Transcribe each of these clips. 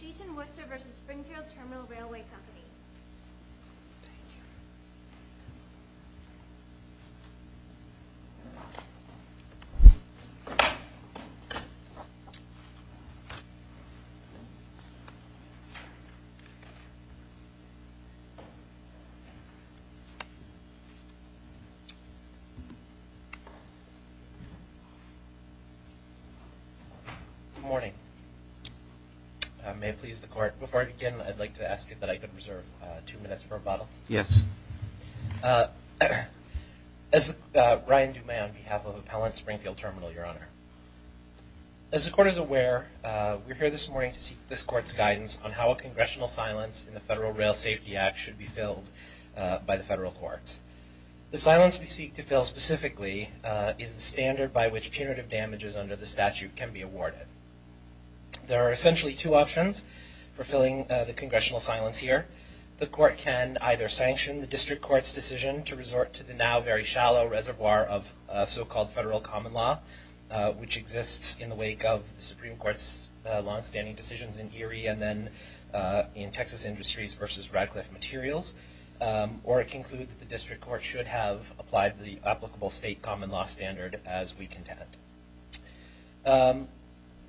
Jason Worcester v. Springfield Terminal Railway Company Thank you. Good morning. Before I begin, I'd like to ask that I could reserve two minutes for rebuttal. Yes. As Ryan Dumay on behalf of Appellant Springfield Terminal, Your Honor. As the court is aware, we're here this morning to seek this court's guidance on how a congressional silence in the Federal Rail Safety Act should be filled by the federal courts. The silence we seek to fill specifically is the standard by which punitive damages under the statute can be awarded. There are essentially two options for filling the congressional silence here. The court can either sanction the district court's decision to resort to the now very shallow reservoir of so-called federal common law, which exists in the wake of the Supreme Court's longstanding decisions in Erie and then in Texas Industries v. Radcliffe Materials. Or it can conclude that the district court should have applied the applicable state common law standard as we contend.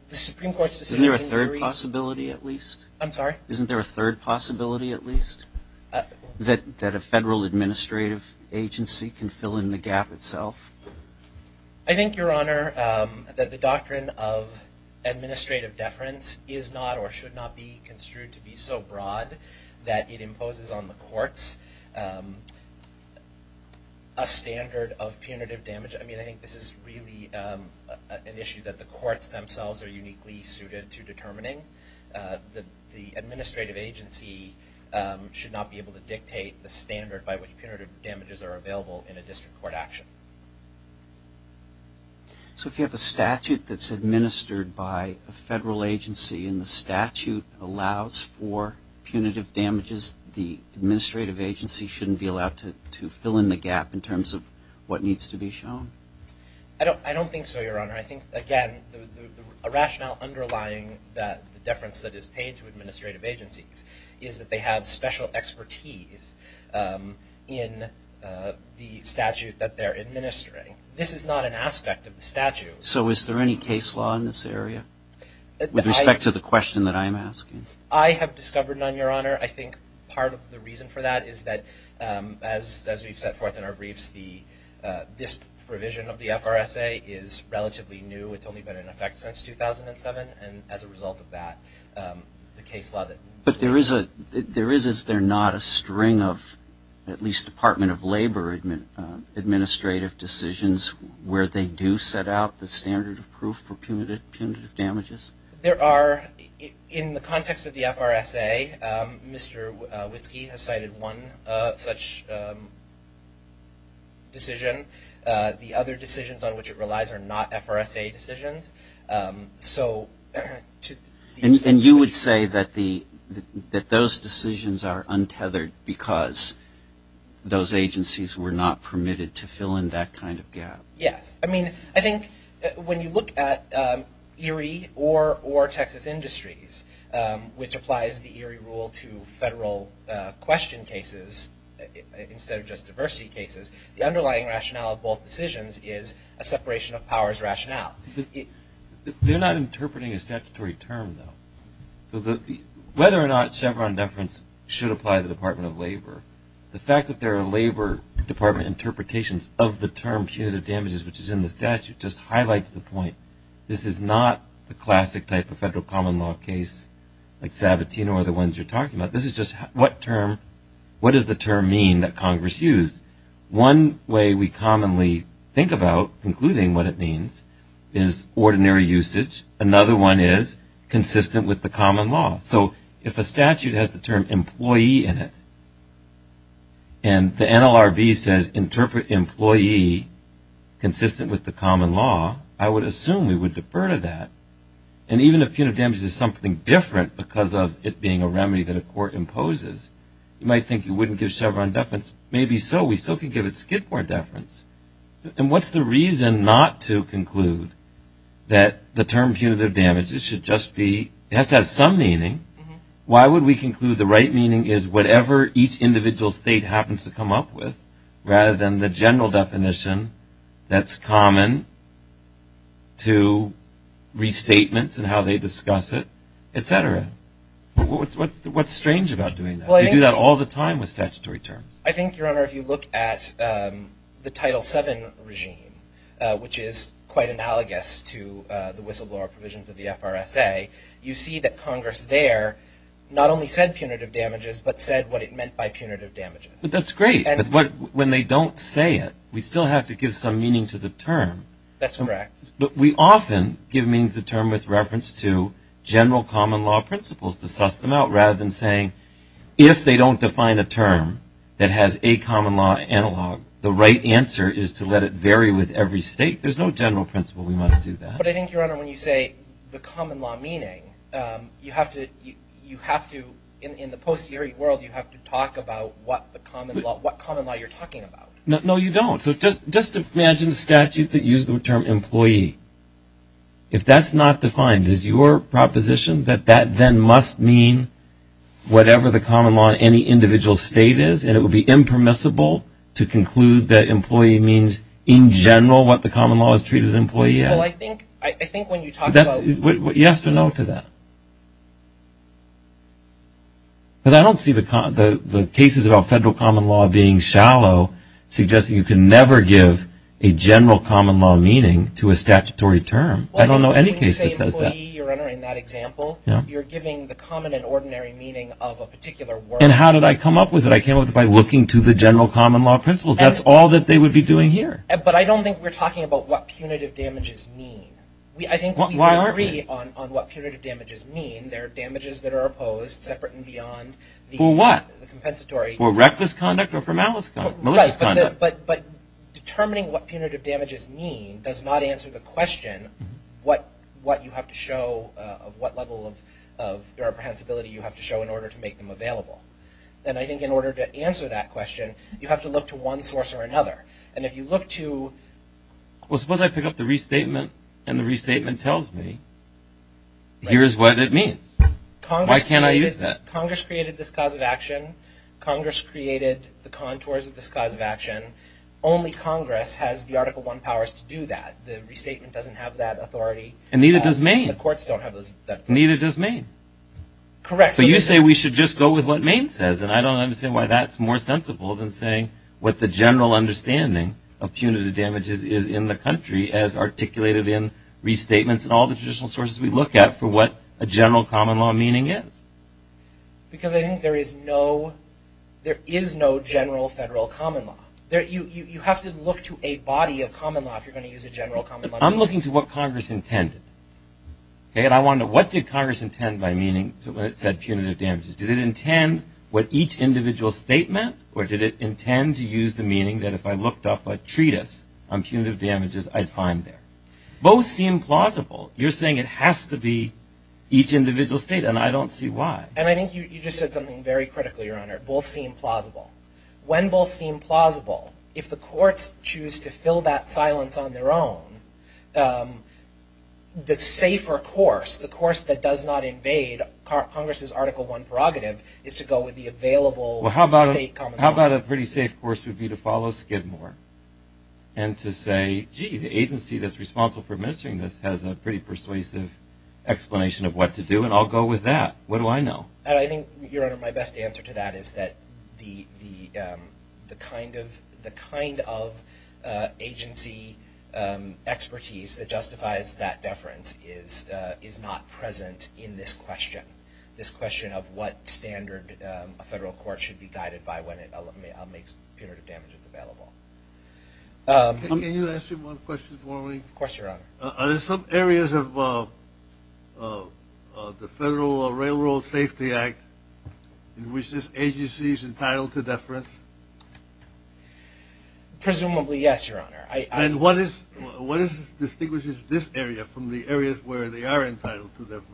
The Supreme Court's decision in Erie... Isn't there a third possibility at least? I'm sorry? Isn't there a third possibility at least? That a federal administrative agency can fill in the gap itself? I think, Your Honor, that the doctrine of administrative deference is not or should not be construed to be so broad that it imposes on the courts a standard of punitive damage. I mean, I think this is really an issue that the courts themselves are uniquely suited to determining. The administrative agency should not be able to dictate the standard by which punitive damages are available in a district court action. So if you have a statute that's administered by a federal agency and the statute allows for punitive damages, the administrative agency shouldn't be allowed to fill in the gap in terms of what needs to be shown? I don't think so, Your Honor. I think, again, a rationale underlying the deference that is paid to administrative agencies is that they have special expertise in the statute that they're administering. This is not an aspect of the statute. So is there any case law in this area with respect to the question that I'm asking? I have discovered none, Your Honor. I think part of the reason for that is that, as we've set forth in our briefs, this provision of the FRSA is relatively new. It's only been in effect since 2007. And as a result of that, the case law that we're... But there is, is there not a string of, at least Department of Labor administrative decisions where they do set out the standard of proof for punitive damages? There are. In the context of the FRSA, Mr. Witzke has cited one such decision. The other decisions on which it relies are not FRSA decisions. So... And you would say that those decisions are untethered because those agencies were not permitted to fill in that kind of gap? Yes. I mean, I think when you look at ERIE or Texas Industries, which applies the ERIE rule to federal question cases instead of just diversity cases, the underlying rationale of both decisions is a separation of powers rationale. They're not interpreting a statutory term, though. So whether or not Chevron deference should apply to the Department of Labor, the fact that there are Labor Department interpretations of the term punitive damages, which is in the statute, just highlights the point. This is not the classic type of federal common law case like Sabatino or the ones you're talking about. This is just what term, what does the term mean that Congress used? One way we commonly think about including what it means is ordinary usage. Another one is consistent with the common law. So if a statute has the term employee in it, and the NLRB says interpret employee consistent with the common law, I would assume we would defer to that. And even if punitive damages is something different because of it being a remedy that a court imposes, you might think you wouldn't give Chevron deference. Maybe so. We still can give it Skidmore deference. And what's the reason not to conclude that the term punitive damages should just be, it has to have some meaning. Why would we conclude the right meaning is whatever each individual state happens to come up with, rather than the general definition that's common to restatements and how they discuss it, et cetera? What's strange about doing that? You do that all the time with statutory terms. I think, Your Honor, if you look at the Title VII regime, which is quite analogous to the whistleblower provisions of the FRSA, you see that Congress there not only said punitive damages, but said what it meant by punitive damages. That's great. But when they don't say it, we still have to give some meaning to the term. That's correct. But we often give meaning to the term with reference to general common law principles to suss them out, rather than saying, if they don't define a term that has a common law analog, the right answer is to let it vary with every state. There's no general principle. We must do that. But I think, Your Honor, when you say the common law meaning, you have to, in the post-hearing world, you have to talk about what common law you're talking about. No, you don't. So just imagine the statute that used the term employee. If that's not defined, is your proposition that that then must mean whatever the common law in any individual state is, and it would be impermissible to conclude that employee means, in general, what the common law is treated as employee is? Well, I think when you talk about... Yes or no to that? Because I don't see the cases about federal common law being shallow, suggesting you can never give a general common law meaning to a statutory term. I don't know any case that says that. When you say employee, Your Honor, in that example, you're giving the common and ordinary meaning of a particular word. And how did I come up with it? I came up with it by looking to the general common law principles. That's all that they would be doing here. But I don't think we're talking about what punitive damages mean. Why aren't we? I think we agree on what punitive damages mean. They're damages that are opposed, separate and beyond the compensatory... For what? For malicious conduct or for malice conduct? Right, but determining what punitive damages mean does not answer the question of what level of irreprehensibility you have to show in order to make them available. And I think in order to answer that question, you have to look to one source or another. And if you look to... Well, suppose I pick up the restatement, and the restatement tells me, here's what it means. Why can't I use that? Congress created this cause of action. Congress created the contours of this cause of action. Only Congress has the Article I powers to do that. The restatement doesn't have that authority. And neither does Maine. The courts don't have that authority. And neither does Maine. Correct. So you say we should just go with what Maine says, and I don't understand why that's more sensible than saying what the general understanding of punitive damages is in the country as articulated in restatements and all the traditional sources we look at for what a general common law meaning is. Because I think there is no general federal common law. You have to look to a body of common law if you're going to use a general common law. I'm looking to what Congress intended. What did Congress intend by meaning when it said punitive damages? Did it intend what each individual state meant, or did it intend to use the meaning that if I looked up a treatise on punitive damages, I'd find there? Both seem plausible. You're saying it has to be each individual state, and I don't see why. And I think you just said something very critical, Your Honor. Both seem plausible. When both seem plausible, if the courts choose to fill that silence on their own, the safer course, the course that does not invade Congress's Article I prerogative, is to go with the available state common law. Well, how about a pretty safe course would be to follow Skidmore and to say, gee, the agency that's responsible for administering this has a pretty persuasive explanation of what to do, and I'll go with that. What do I know? I think, Your Honor, my best answer to that is that the kind of agency expertise that justifies that deference is not present in this question, this question of what standard a federal court should be guided by when it makes punitive damages available. Can you ask me one question more, Lee? Of course, Your Honor. Are there some areas of the Federal Railroad Safety Act in which this agency is entitled to deference? Presumably, yes, Your Honor. And what distinguishes this area from the areas where they are entitled to deference?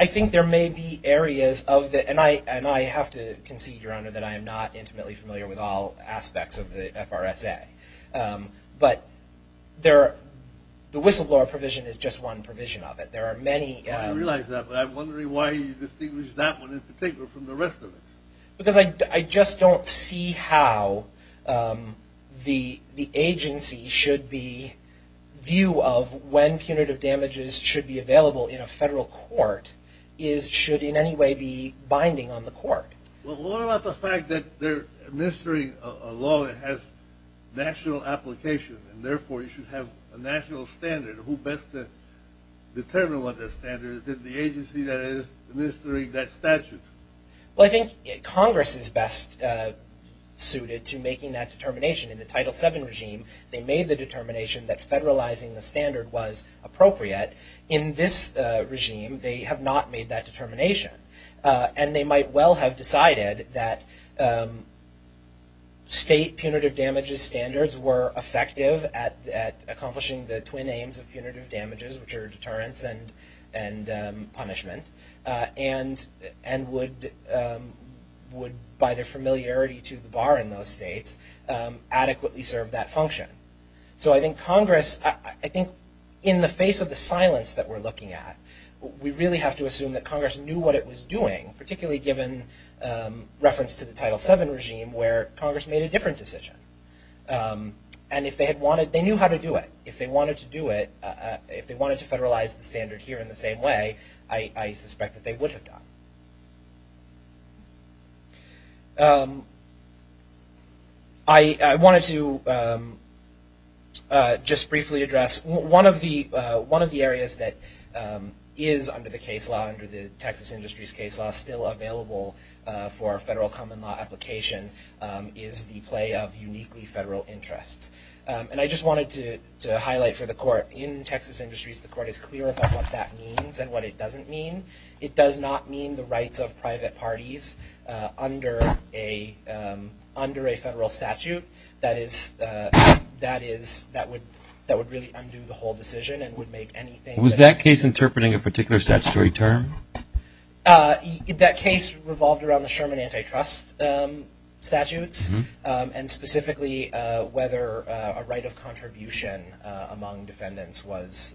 I think there may be areas of the – and I have to concede, Your Honor, that I am not intimately familiar with all aspects of the FRSA. But the whistleblower provision is just one provision of it. There are many – I realize that, but I'm wondering why you distinguish that one in particular from the rest of it. Because I just don't see how the agency should be – view of when punitive damages should be available in a federal court should in any way be binding on the court. Well, what about the fact that they're administering a law that has national application, and therefore you should have a national standard? Who best to determine what that standard is? Is it the agency that is administering that statute? Well, I think Congress is best suited to making that determination. In the Title VII regime, they made the determination that federalizing the standard was appropriate. In this regime, they have not made that determination. And they might well have decided that state punitive damages standards were effective at accomplishing the twin aims of punitive damages, which are deterrence and punishment, and would, by their familiarity to the bar in those states, adequately serve that function. So I think Congress – I think in the face of the silence that we're looking at, we really have to assume that Congress knew what it was doing, particularly given reference to the Title VII regime, where Congress made a different decision. And if they had wanted – they knew how to do it. If they wanted to do it – if they wanted to federalize the standard here in the same way, I suspect that they would have done. I wanted to just briefly address – one of the areas that is under the case law, under the Texas Industries case law, still available for a federal common law application, is the play of uniquely federal interests. And I just wanted to highlight for the Court, in Texas Industries, the Court is clear about what that means and what it doesn't mean. It does not mean the rights of private parties under a federal statute. That is – that would really undo the whole decision and would make anything – Was that case interpreting a particular statutory term? That case revolved around the Sherman antitrust statutes, and specifically whether a right of contribution among defendants was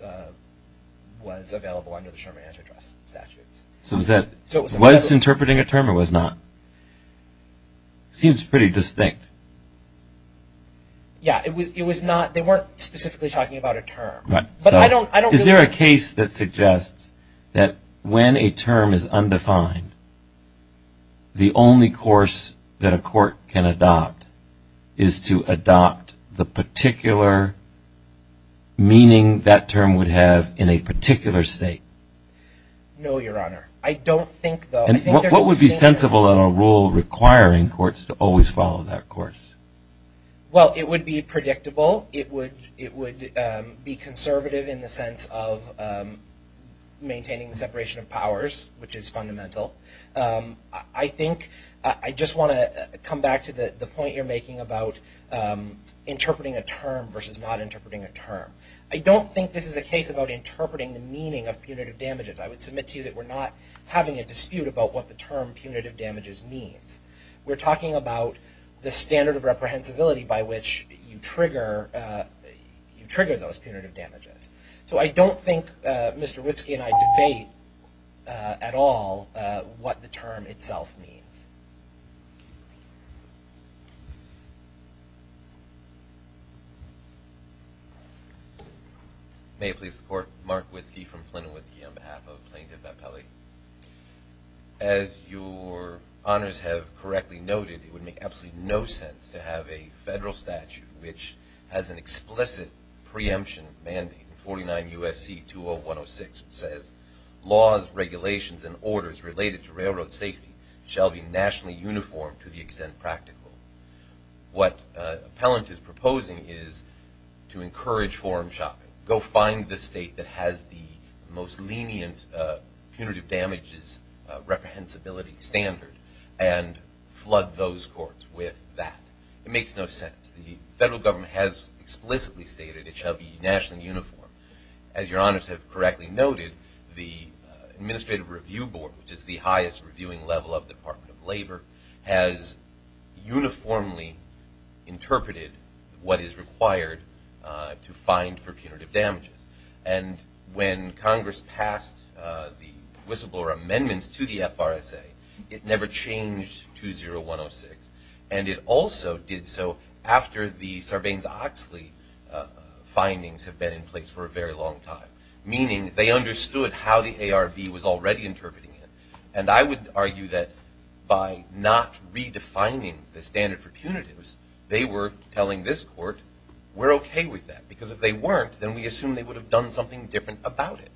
available under the Sherman antitrust statutes. So was that – was interpreting a term or was not? Seems pretty distinct. Yeah, it was not – they weren't specifically talking about a term. But I don't – Is there a case that suggests that when a term is undefined, the only course that a court can adopt is to adopt the particular meaning that term would have in a particular state? No, Your Honor. I don't think, though. What would be sensible in a rule requiring courts to always follow that course? Well, it would be predictable. It would be conservative in the sense of maintaining the separation of powers, which is fundamental. I think – I just want to come back to the point you're making about interpreting a term versus not interpreting a term. I don't think this is a case about interpreting the meaning of punitive damages. I would submit to you that we're not having a dispute about what the term punitive damages means. We're talking about the standard of reprehensibility by which you trigger those punitive damages. So I don't think Mr. Witski and I debate at all what the term itself means. May it please the Court. Mark Witski from Flynn & Witski on behalf of Plaintiff Appellee. As your honors have correctly noted, it would make absolutely no sense to have a federal statute which has an explicit preemption mandate, 49 U.S.C. 20106, which says, laws, regulations, and orders related to railroad safety shall be nationally uniformed to the extent practical. What Appellant is proposing is to encourage forum shopping. Go find the state that has the most lenient punitive damages reprehensibility standard and flood those courts with that. It makes no sense. The federal government has explicitly stated it shall be nationally uniformed. As your honors have correctly noted, the Administrative Review Board, which is the highest reviewing level of the Department of Labor, has uniformly interpreted what is required to find for punitive damages. And when Congress passed the whistleblower amendments to the FRSA, it never changed 20106. And it also did so after the Sarbanes-Oxley findings have been in place for a very long time, meaning they understood how the ARB was already interpreting it. And I would argue that by not redefining the standard for punitives, they were telling this court, we're okay with that. Because if they weren't, then we assume they would have done something different about it.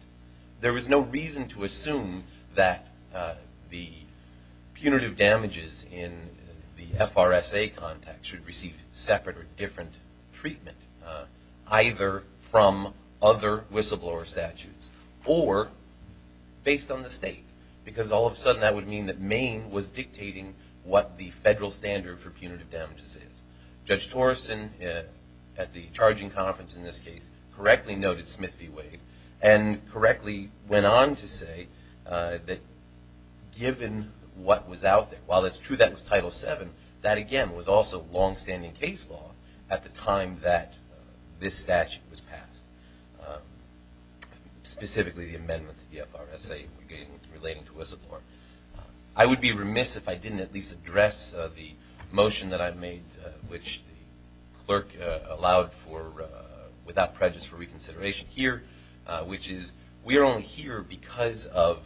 There was no reason to assume that the punitive damages in the FRSA context should receive separate or different treatment, either from other whistleblower statutes or based on the state. Because all of a sudden that would mean that Maine was dictating what the federal standard for punitive damages is. Judge Torreson, at the charging conference in this case, correctly noted Smith v. Wade and correctly went on to say that given what was out there, while it's true that was Title VII, that again was also longstanding case law at the time that this statute was passed, specifically the amendments to the FRSA relating to whistleblower. I would be remiss if I didn't at least address the motion that I made, which the clerk allowed for without prejudice for reconsideration here, which is we are only here because of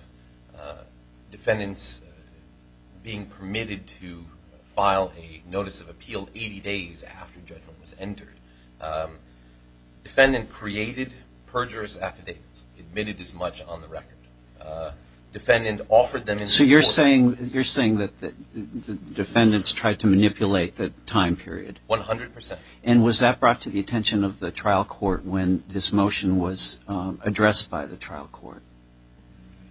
defendants being permitted to file a notice of appeal 80 days after judgment was entered. Defendant created perjurous affidavits, admitted as much on the record. Defendant offered them in court. So you're saying that the defendants tried to manipulate the time period? One hundred percent. And was that brought to the attention of the trial court when this motion was addressed by the trial court?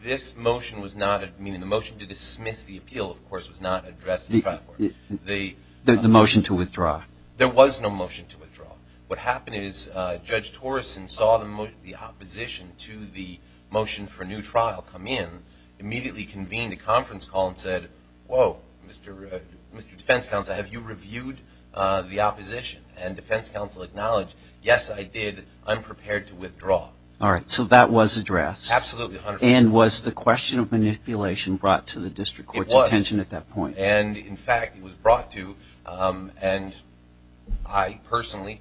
This motion was not, meaning the motion to dismiss the appeal, of course, was not addressed by the trial court. The motion to withdraw? There was no motion to withdraw. What happened is Judge Torreson saw the opposition to the motion for a new trial come in, immediately convened a conference call and said, whoa, Mr. Defense Counsel, have you reviewed the opposition? And defense counsel acknowledged, yes, I did. I'm prepared to withdraw. All right. So that was addressed. Absolutely. And was the question of manipulation brought to the district court's attention at that point? It was. And, in fact, it was brought to, and I personally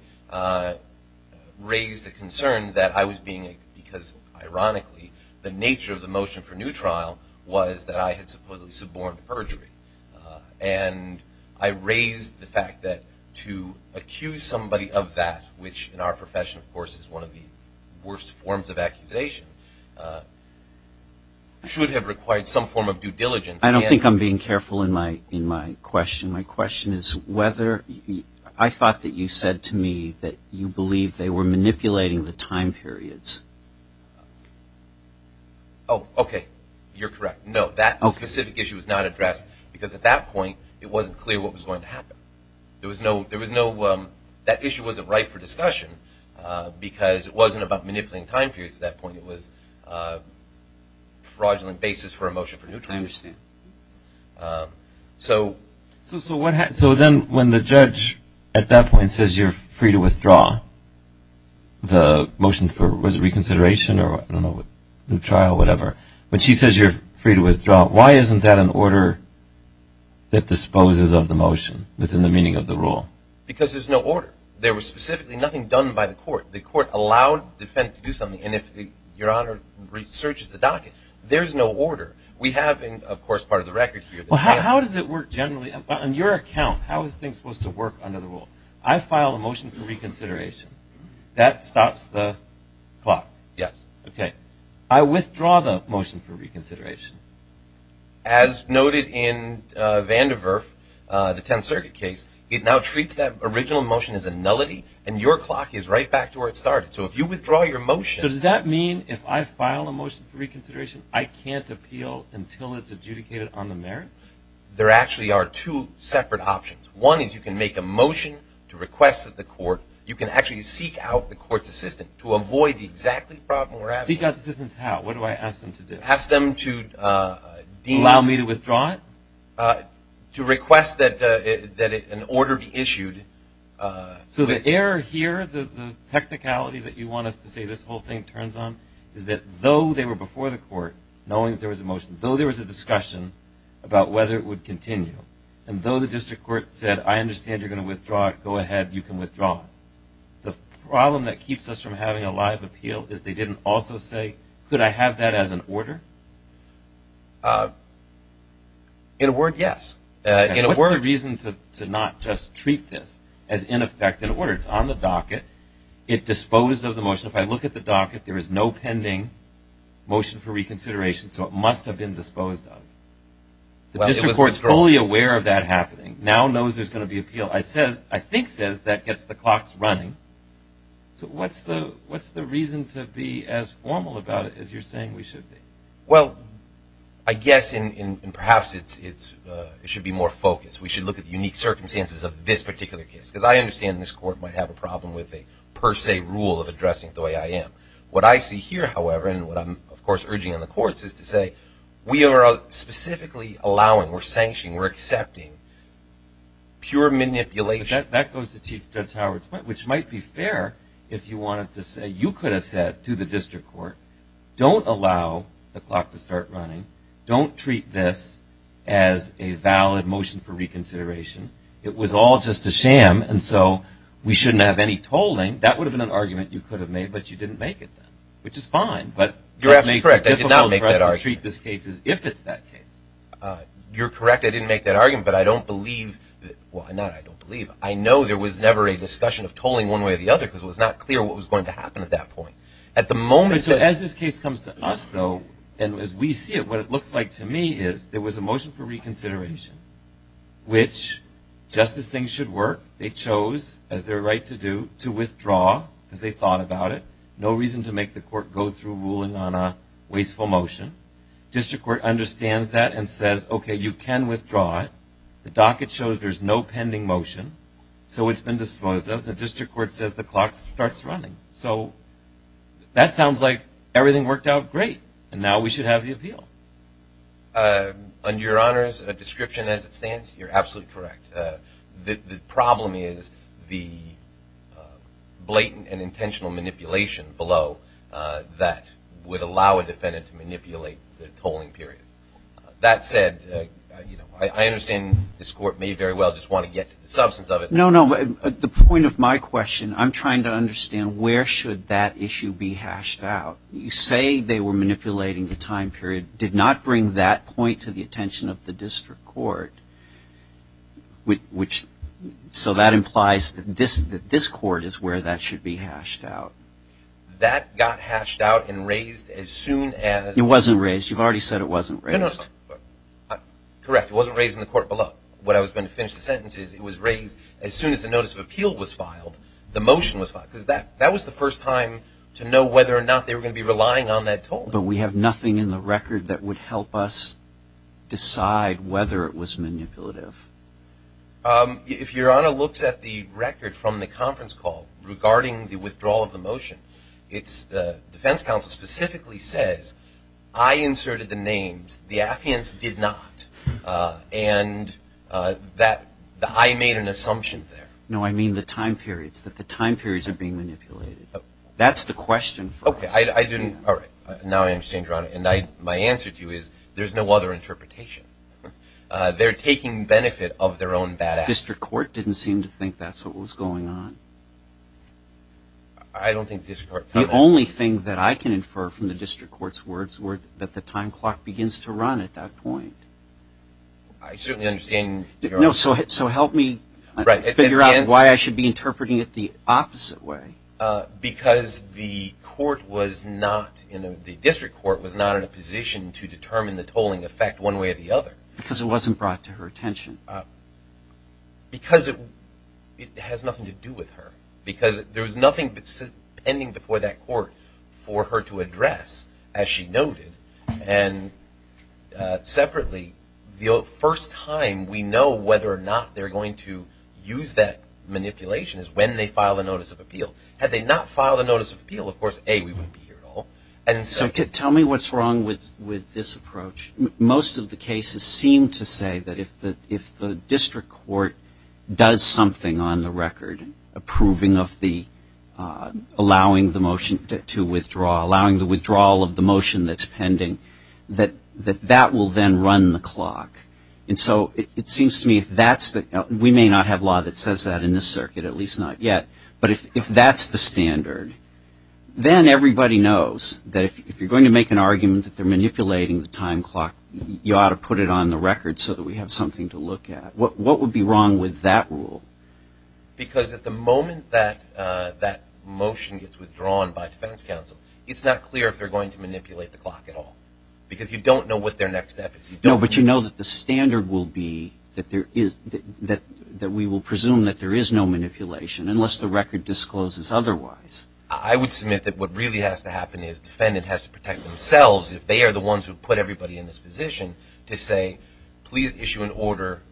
raised the concern that I was being, because ironically the nature of the motion for new trial was that I had supposedly suborned perjury. And I raised the fact that to accuse somebody of that, which in our profession, of course, is one of the worst forms of accusation, should have required some form of due diligence. I don't think I'm being careful in my question. My question is whether I thought that you said to me that you believed they were manipulating the time periods. Oh, okay, you're correct. No, that specific issue was not addressed because at that point it wasn't clear what was going to happen. There was no, that issue wasn't right for discussion because it wasn't about manipulating time periods at that point. I understand. So what happened? So then when the judge at that point says you're free to withdraw, the motion for reconsideration or new trial or whatever, when she says you're free to withdraw, why isn't that an order that disposes of the motion within the meaning of the rule? Because there's no order. There was specifically nothing done by the court. The court allowed the defendant to do something. And if Your Honor searches the docket, there's no order. We have in, of course, part of the record here. Well, how does it work generally? On your account, how is things supposed to work under the rule? I file a motion for reconsideration. That stops the clock. Yes. Okay. I withdraw the motion for reconsideration. As noted in Vandiver, the Tenth Circuit case, it now treats that original motion as a nullity and your clock is right back to where it started. So if you withdraw your motion. So does that mean if I file a motion for reconsideration, I can't appeal until it's adjudicated on the merits? There actually are two separate options. One is you can make a motion to request that the court, you can actually seek out the court's assistant to avoid the exact problem we're having. Seek out the assistant's how? What do I ask them to do? Ask them to deem. Allow me to withdraw it? To request that an order be issued. So the error here, the technicality that you want us to say this whole thing turns on is that though they were before the court knowing there was a motion, though there was a discussion about whether it would continue, and though the district court said, I understand you're going to withdraw it. Go ahead. You can withdraw it. The problem that keeps us from having a live appeal is they didn't also say, could I have that as an order? In a word, yes. What's the reason to not just treat this as in effect an order? It's on the docket. It disposed of the motion. If I look at the docket, there is no pending motion for reconsideration, so it must have been disposed of. The district court is fully aware of that happening, now knows there's going to be an appeal. I think it says that gets the clocks running. So what's the reason to be as formal about it as you're saying we should be? Well, I guess, and perhaps it should be more focused, we should look at the unique circumstances of this particular case. Because I understand this court might have a problem with a per se rule of the way I am. What I see here, however, and what I'm, of course, urging on the courts is to say we are specifically allowing, we're sanctioning, we're accepting pure manipulation. That goes to Chief Judge Howard's point, which might be fair if you wanted to say you could have said to the district court, don't allow the clock to start running. Don't treat this as a valid motion for reconsideration. It was all just a sham, and so we shouldn't have any tolling. That would have been an argument you could have made, but you didn't make it then, which is fine. You're absolutely correct. I did not make that argument. You're correct. I didn't make that argument, but I don't believe, well, not I don't believe. I know there was never a discussion of tolling one way or the other because it was not clear what was going to happen at that point. So as this case comes to us, though, and as we see it, what it looks like to me is there was a motion for reconsideration, which just as things should work, they chose as their right to do to withdraw because they thought about it. No reason to make the court go through ruling on a wasteful motion. District court understands that and says, okay, you can withdraw it. The docket shows there's no pending motion, so it's been disposed of. The district court says the clock starts running. So that sounds like everything worked out great, and now we should have the appeal. On Your Honor's description as it stands, you're absolutely correct. The problem is the blatant and intentional manipulation below that would allow a defendant to manipulate the tolling period. That said, I understand this court may very well just want to get to the substance of it. No, no, but the point of my question, I'm trying to understand where should that issue be hashed out. You say they were manipulating the time period. I did not bring that point to the attention of the district court, which so that implies that this court is where that should be hashed out. That got hashed out and raised as soon as. It wasn't raised. You've already said it wasn't raised. Correct. It wasn't raised in the court below. When I was going to finish the sentences, it was raised. As soon as the notice of appeal was filed, the motion was filed. Because that was the first time to know whether or not they were going to be relying on that tolling. But we have nothing in the record that would help us decide whether it was manipulative. If Your Honor looks at the record from the conference call regarding the withdrawal of the motion, it's the defense counsel specifically says, I inserted the names. The affiance did not. And that I made an assumption there. No, I mean the time periods, that the time periods are being manipulated. That's the question for us. Okay. Now I understand, Your Honor. And my answer to you is, there's no other interpretation. They're taking benefit of their own bad acts. The district court didn't seem to think that's what was going on. I don't think the district court. The only thing that I can infer from the district court's words were that the time clock begins to run at that point. I certainly understand, Your Honor. So help me figure out why I should be interpreting it the opposite way. Because the court was not, the district court was not in a position to determine the tolling effect one way or the other. Because it wasn't brought to her attention. Because it has nothing to do with her. Because there was nothing pending before that court for her to address, as she noted. And separately, the first time we know whether or not they're going to use that manipulation is when they file a notice of appeal. Had they not filed a notice of appeal, of course, A, we wouldn't be here at all. Tell me what's wrong with this approach. Most of the cases seem to say that if the district court does something on the record, approving of the, allowing the motion to withdraw, allowing the withdrawal of the motion that's pending, that that will then run the clock. And so it seems to me if that's the, we may not have law that says that in this circuit, at least not yet. But if that's the standard, then everybody knows that if you're going to make an argument that they're manipulating the time clock, you ought to put it on the record so that we have something to look at. What would be wrong with that rule? Because at the moment that motion gets withdrawn by defense counsel, it's not clear if they're going to manipulate the clock at all. Because you don't know what their next step is. No, but you know that the standard will be that there is, that we will presume that there is no manipulation unless the record discloses otherwise. I would submit that what really has to happen is the defendant has to protect themselves if they are the ones who put everybody in this position to say, please issue an order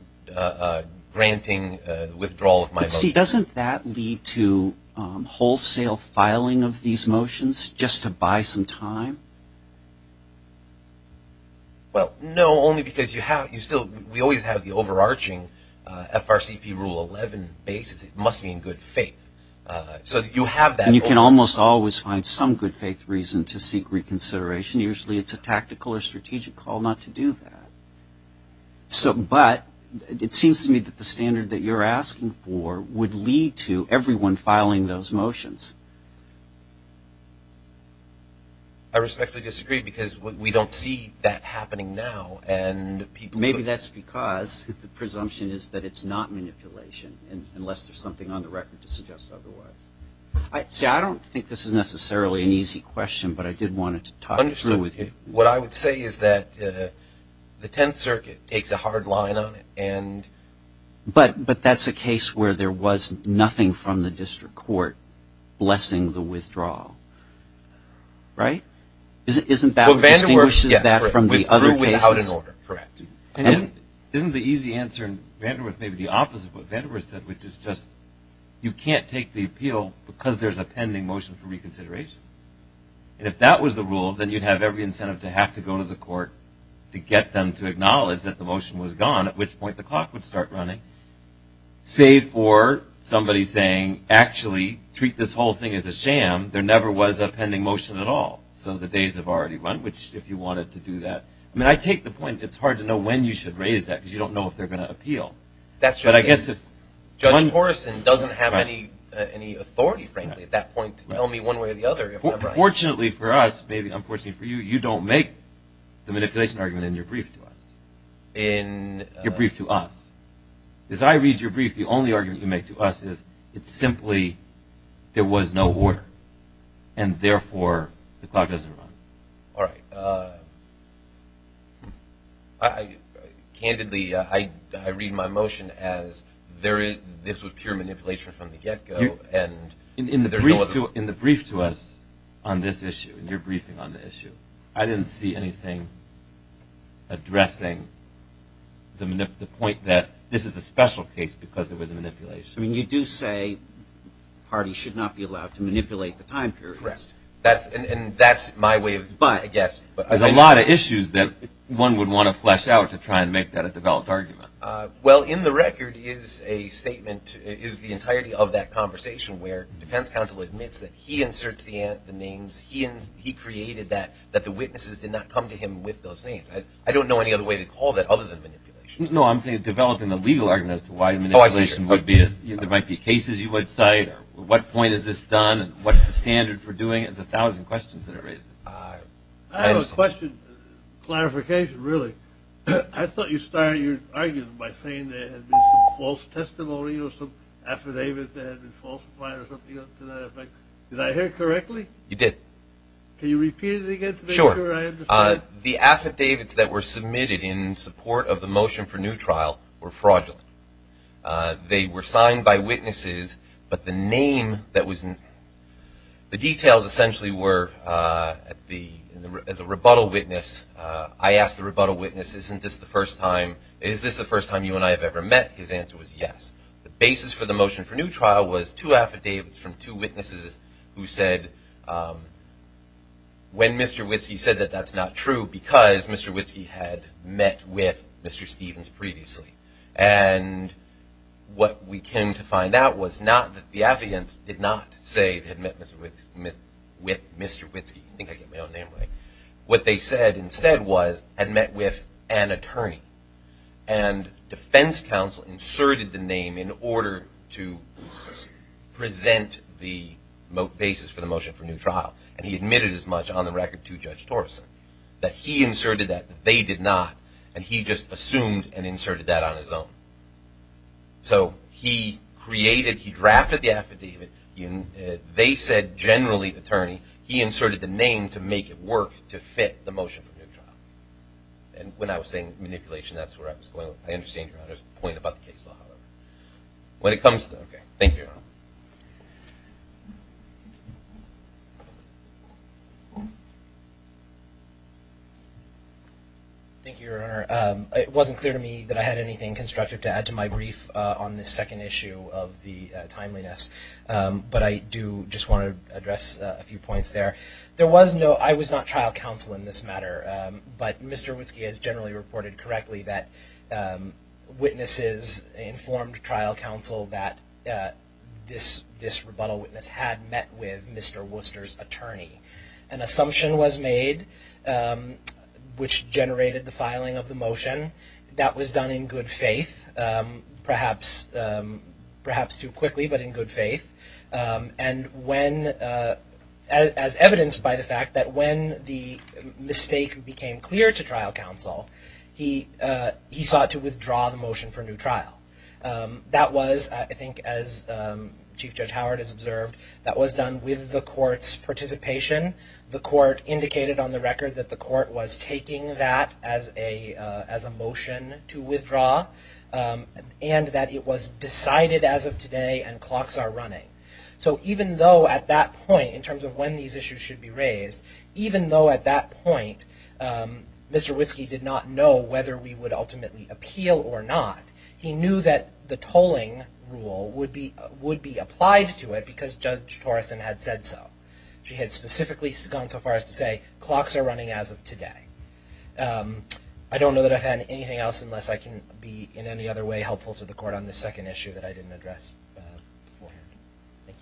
granting withdrawal of my motion. But see, doesn't that lead to wholesale filing of these motions just to buy some time? Well, no, only because you have, you still, we always have the overarching FRCP Rule 11 basis, it must be in good faith. So you have that rule. And you can almost always find some good faith reason to seek reconsideration. Usually it's a tactical or strategic call not to do that. But it seems to me that the standard that you're asking for would lead to everyone filing those motions. I respectfully disagree because we don't see that happening now. Maybe that's because the presumption is that it's not manipulation unless there's something on the record to suggest otherwise. See, I don't think this is necessarily an easy question, but I did want to talk it through with you. What I would say is that the Tenth Circuit takes a hard line on it. But that's a case where there was nothing from the District Court blessing the withdrawal. Right? Isn't that what distinguishes that from the other cases? Correct. Isn't the easy answer in Vanderbilt maybe the opposite of what Vanderbilt said, which is just you can't take the appeal because there's a pending motion for reconsideration. And if that was the rule, then you'd have every incentive to have to go to the court to get them to acknowledge that the motion was gone, at which point the clock would start running, save for somebody saying, actually, treat this whole thing as a sham. There never was a pending motion at all. So the days have already run, which if you wanted to do that. I mean, I take the point it's hard to know when you should raise that because you don't know if they're going to appeal. That's just it. But I guess if one person doesn't have any authority, frankly, at that point to tell me one way or the other. Fortunately for us, maybe unfortunately for you, you don't make the manipulation argument in your brief to us. In your brief to us. As I read your brief, the only argument you make to us is it's simply there was no order, and therefore the clock doesn't run. All right. Candidly, I read my motion as this was pure manipulation from the get-go. In the brief to us on this issue, in your briefing on the issue, I didn't see anything addressing the point that this is a special case because it was a manipulation. I mean, you do say parties should not be allowed to manipulate the time period. Correct. And that's my way of, I guess. There's a lot of issues that one would want to flesh out to try and make that a developed argument. Well, in the record is a statement, is the entirety of that conversation, where defense counsel admits that he inserts the names, he created that the witnesses did not come to him with those names. I don't know any other way to call that other than manipulation. No, I'm saying developing a legal argument as to why manipulation would be, there might be cases you would cite, what point is this done, what's the standard for doing it, there's a thousand questions that are raised. I have a question, clarification really. I thought you started your argument by saying there had been some false testimony or some affidavit that had been falsified or something to that effect. Did I hear correctly? You did. Can you repeat it again to make sure I understand? Sure. The affidavits that were submitted in support of the motion for new trial were fraudulent. They were signed by witnesses, but the name that was in, the details essentially were as a rebuttal witness, I asked the rebuttal witness, isn't this the first time, is this the first time you and I have ever met, his answer was yes. The basis for the motion for new trial was two affidavits from two witnesses who said, when Mr. Witski said that that's not true because Mr. Witski had met with Mr. Stevens previously and what we came to find out was not that the affidavits did not say they had met with Mr. Witski, I think I get my own name right, what they said instead was had met with an attorney and defense counsel inserted the name in order to present the basis for the motion for new trial and he admitted as much on the record to Judge Torreson that he inserted that, that they did not, and he just assumed and inserted that on his own. So he created, he drafted the affidavit, they said generally attorney, he inserted the name to make it work to fit the motion for new trial. And when I was saying manipulation, that's where I was going, I understand your point about the case law, however. When it comes to, okay, thank you, Your Honor. Thank you, Your Honor. It wasn't clear to me that I had anything constructive to add to my brief on this second issue of the timeliness, but I do just want to address a few points there. There was no, I was not trial counsel in this matter, but Mr. Witski has generally reported correctly that witnesses informed trial counsel that this rebuttal witness had met with Mr. Worcester's attorney. An assumption was made which generated the filing of the motion. That was done in good faith, perhaps too quickly, but in good faith. And when, as evidenced by the fact that when the mistake became clear to trial counsel, he sought to withdraw the motion for new trial. That was, I think as Chief Judge Howard has observed, that was done with the court's participation. The court indicated on the record that the court was taking that as a motion to withdraw, and that it was decided as of today and clocks are running. So even though at that point, in terms of when these issues should be raised, even though at that point Mr. Witski did not know whether we would ultimately appeal or not, he knew that the tolling rule would be applied to it because Judge Torrison had said so. She had specifically gone so far as to say clocks are running as of today. I don't know that I've had anything else unless I can be in any other way helpful to the court on the second issue that I didn't address before. Thank you.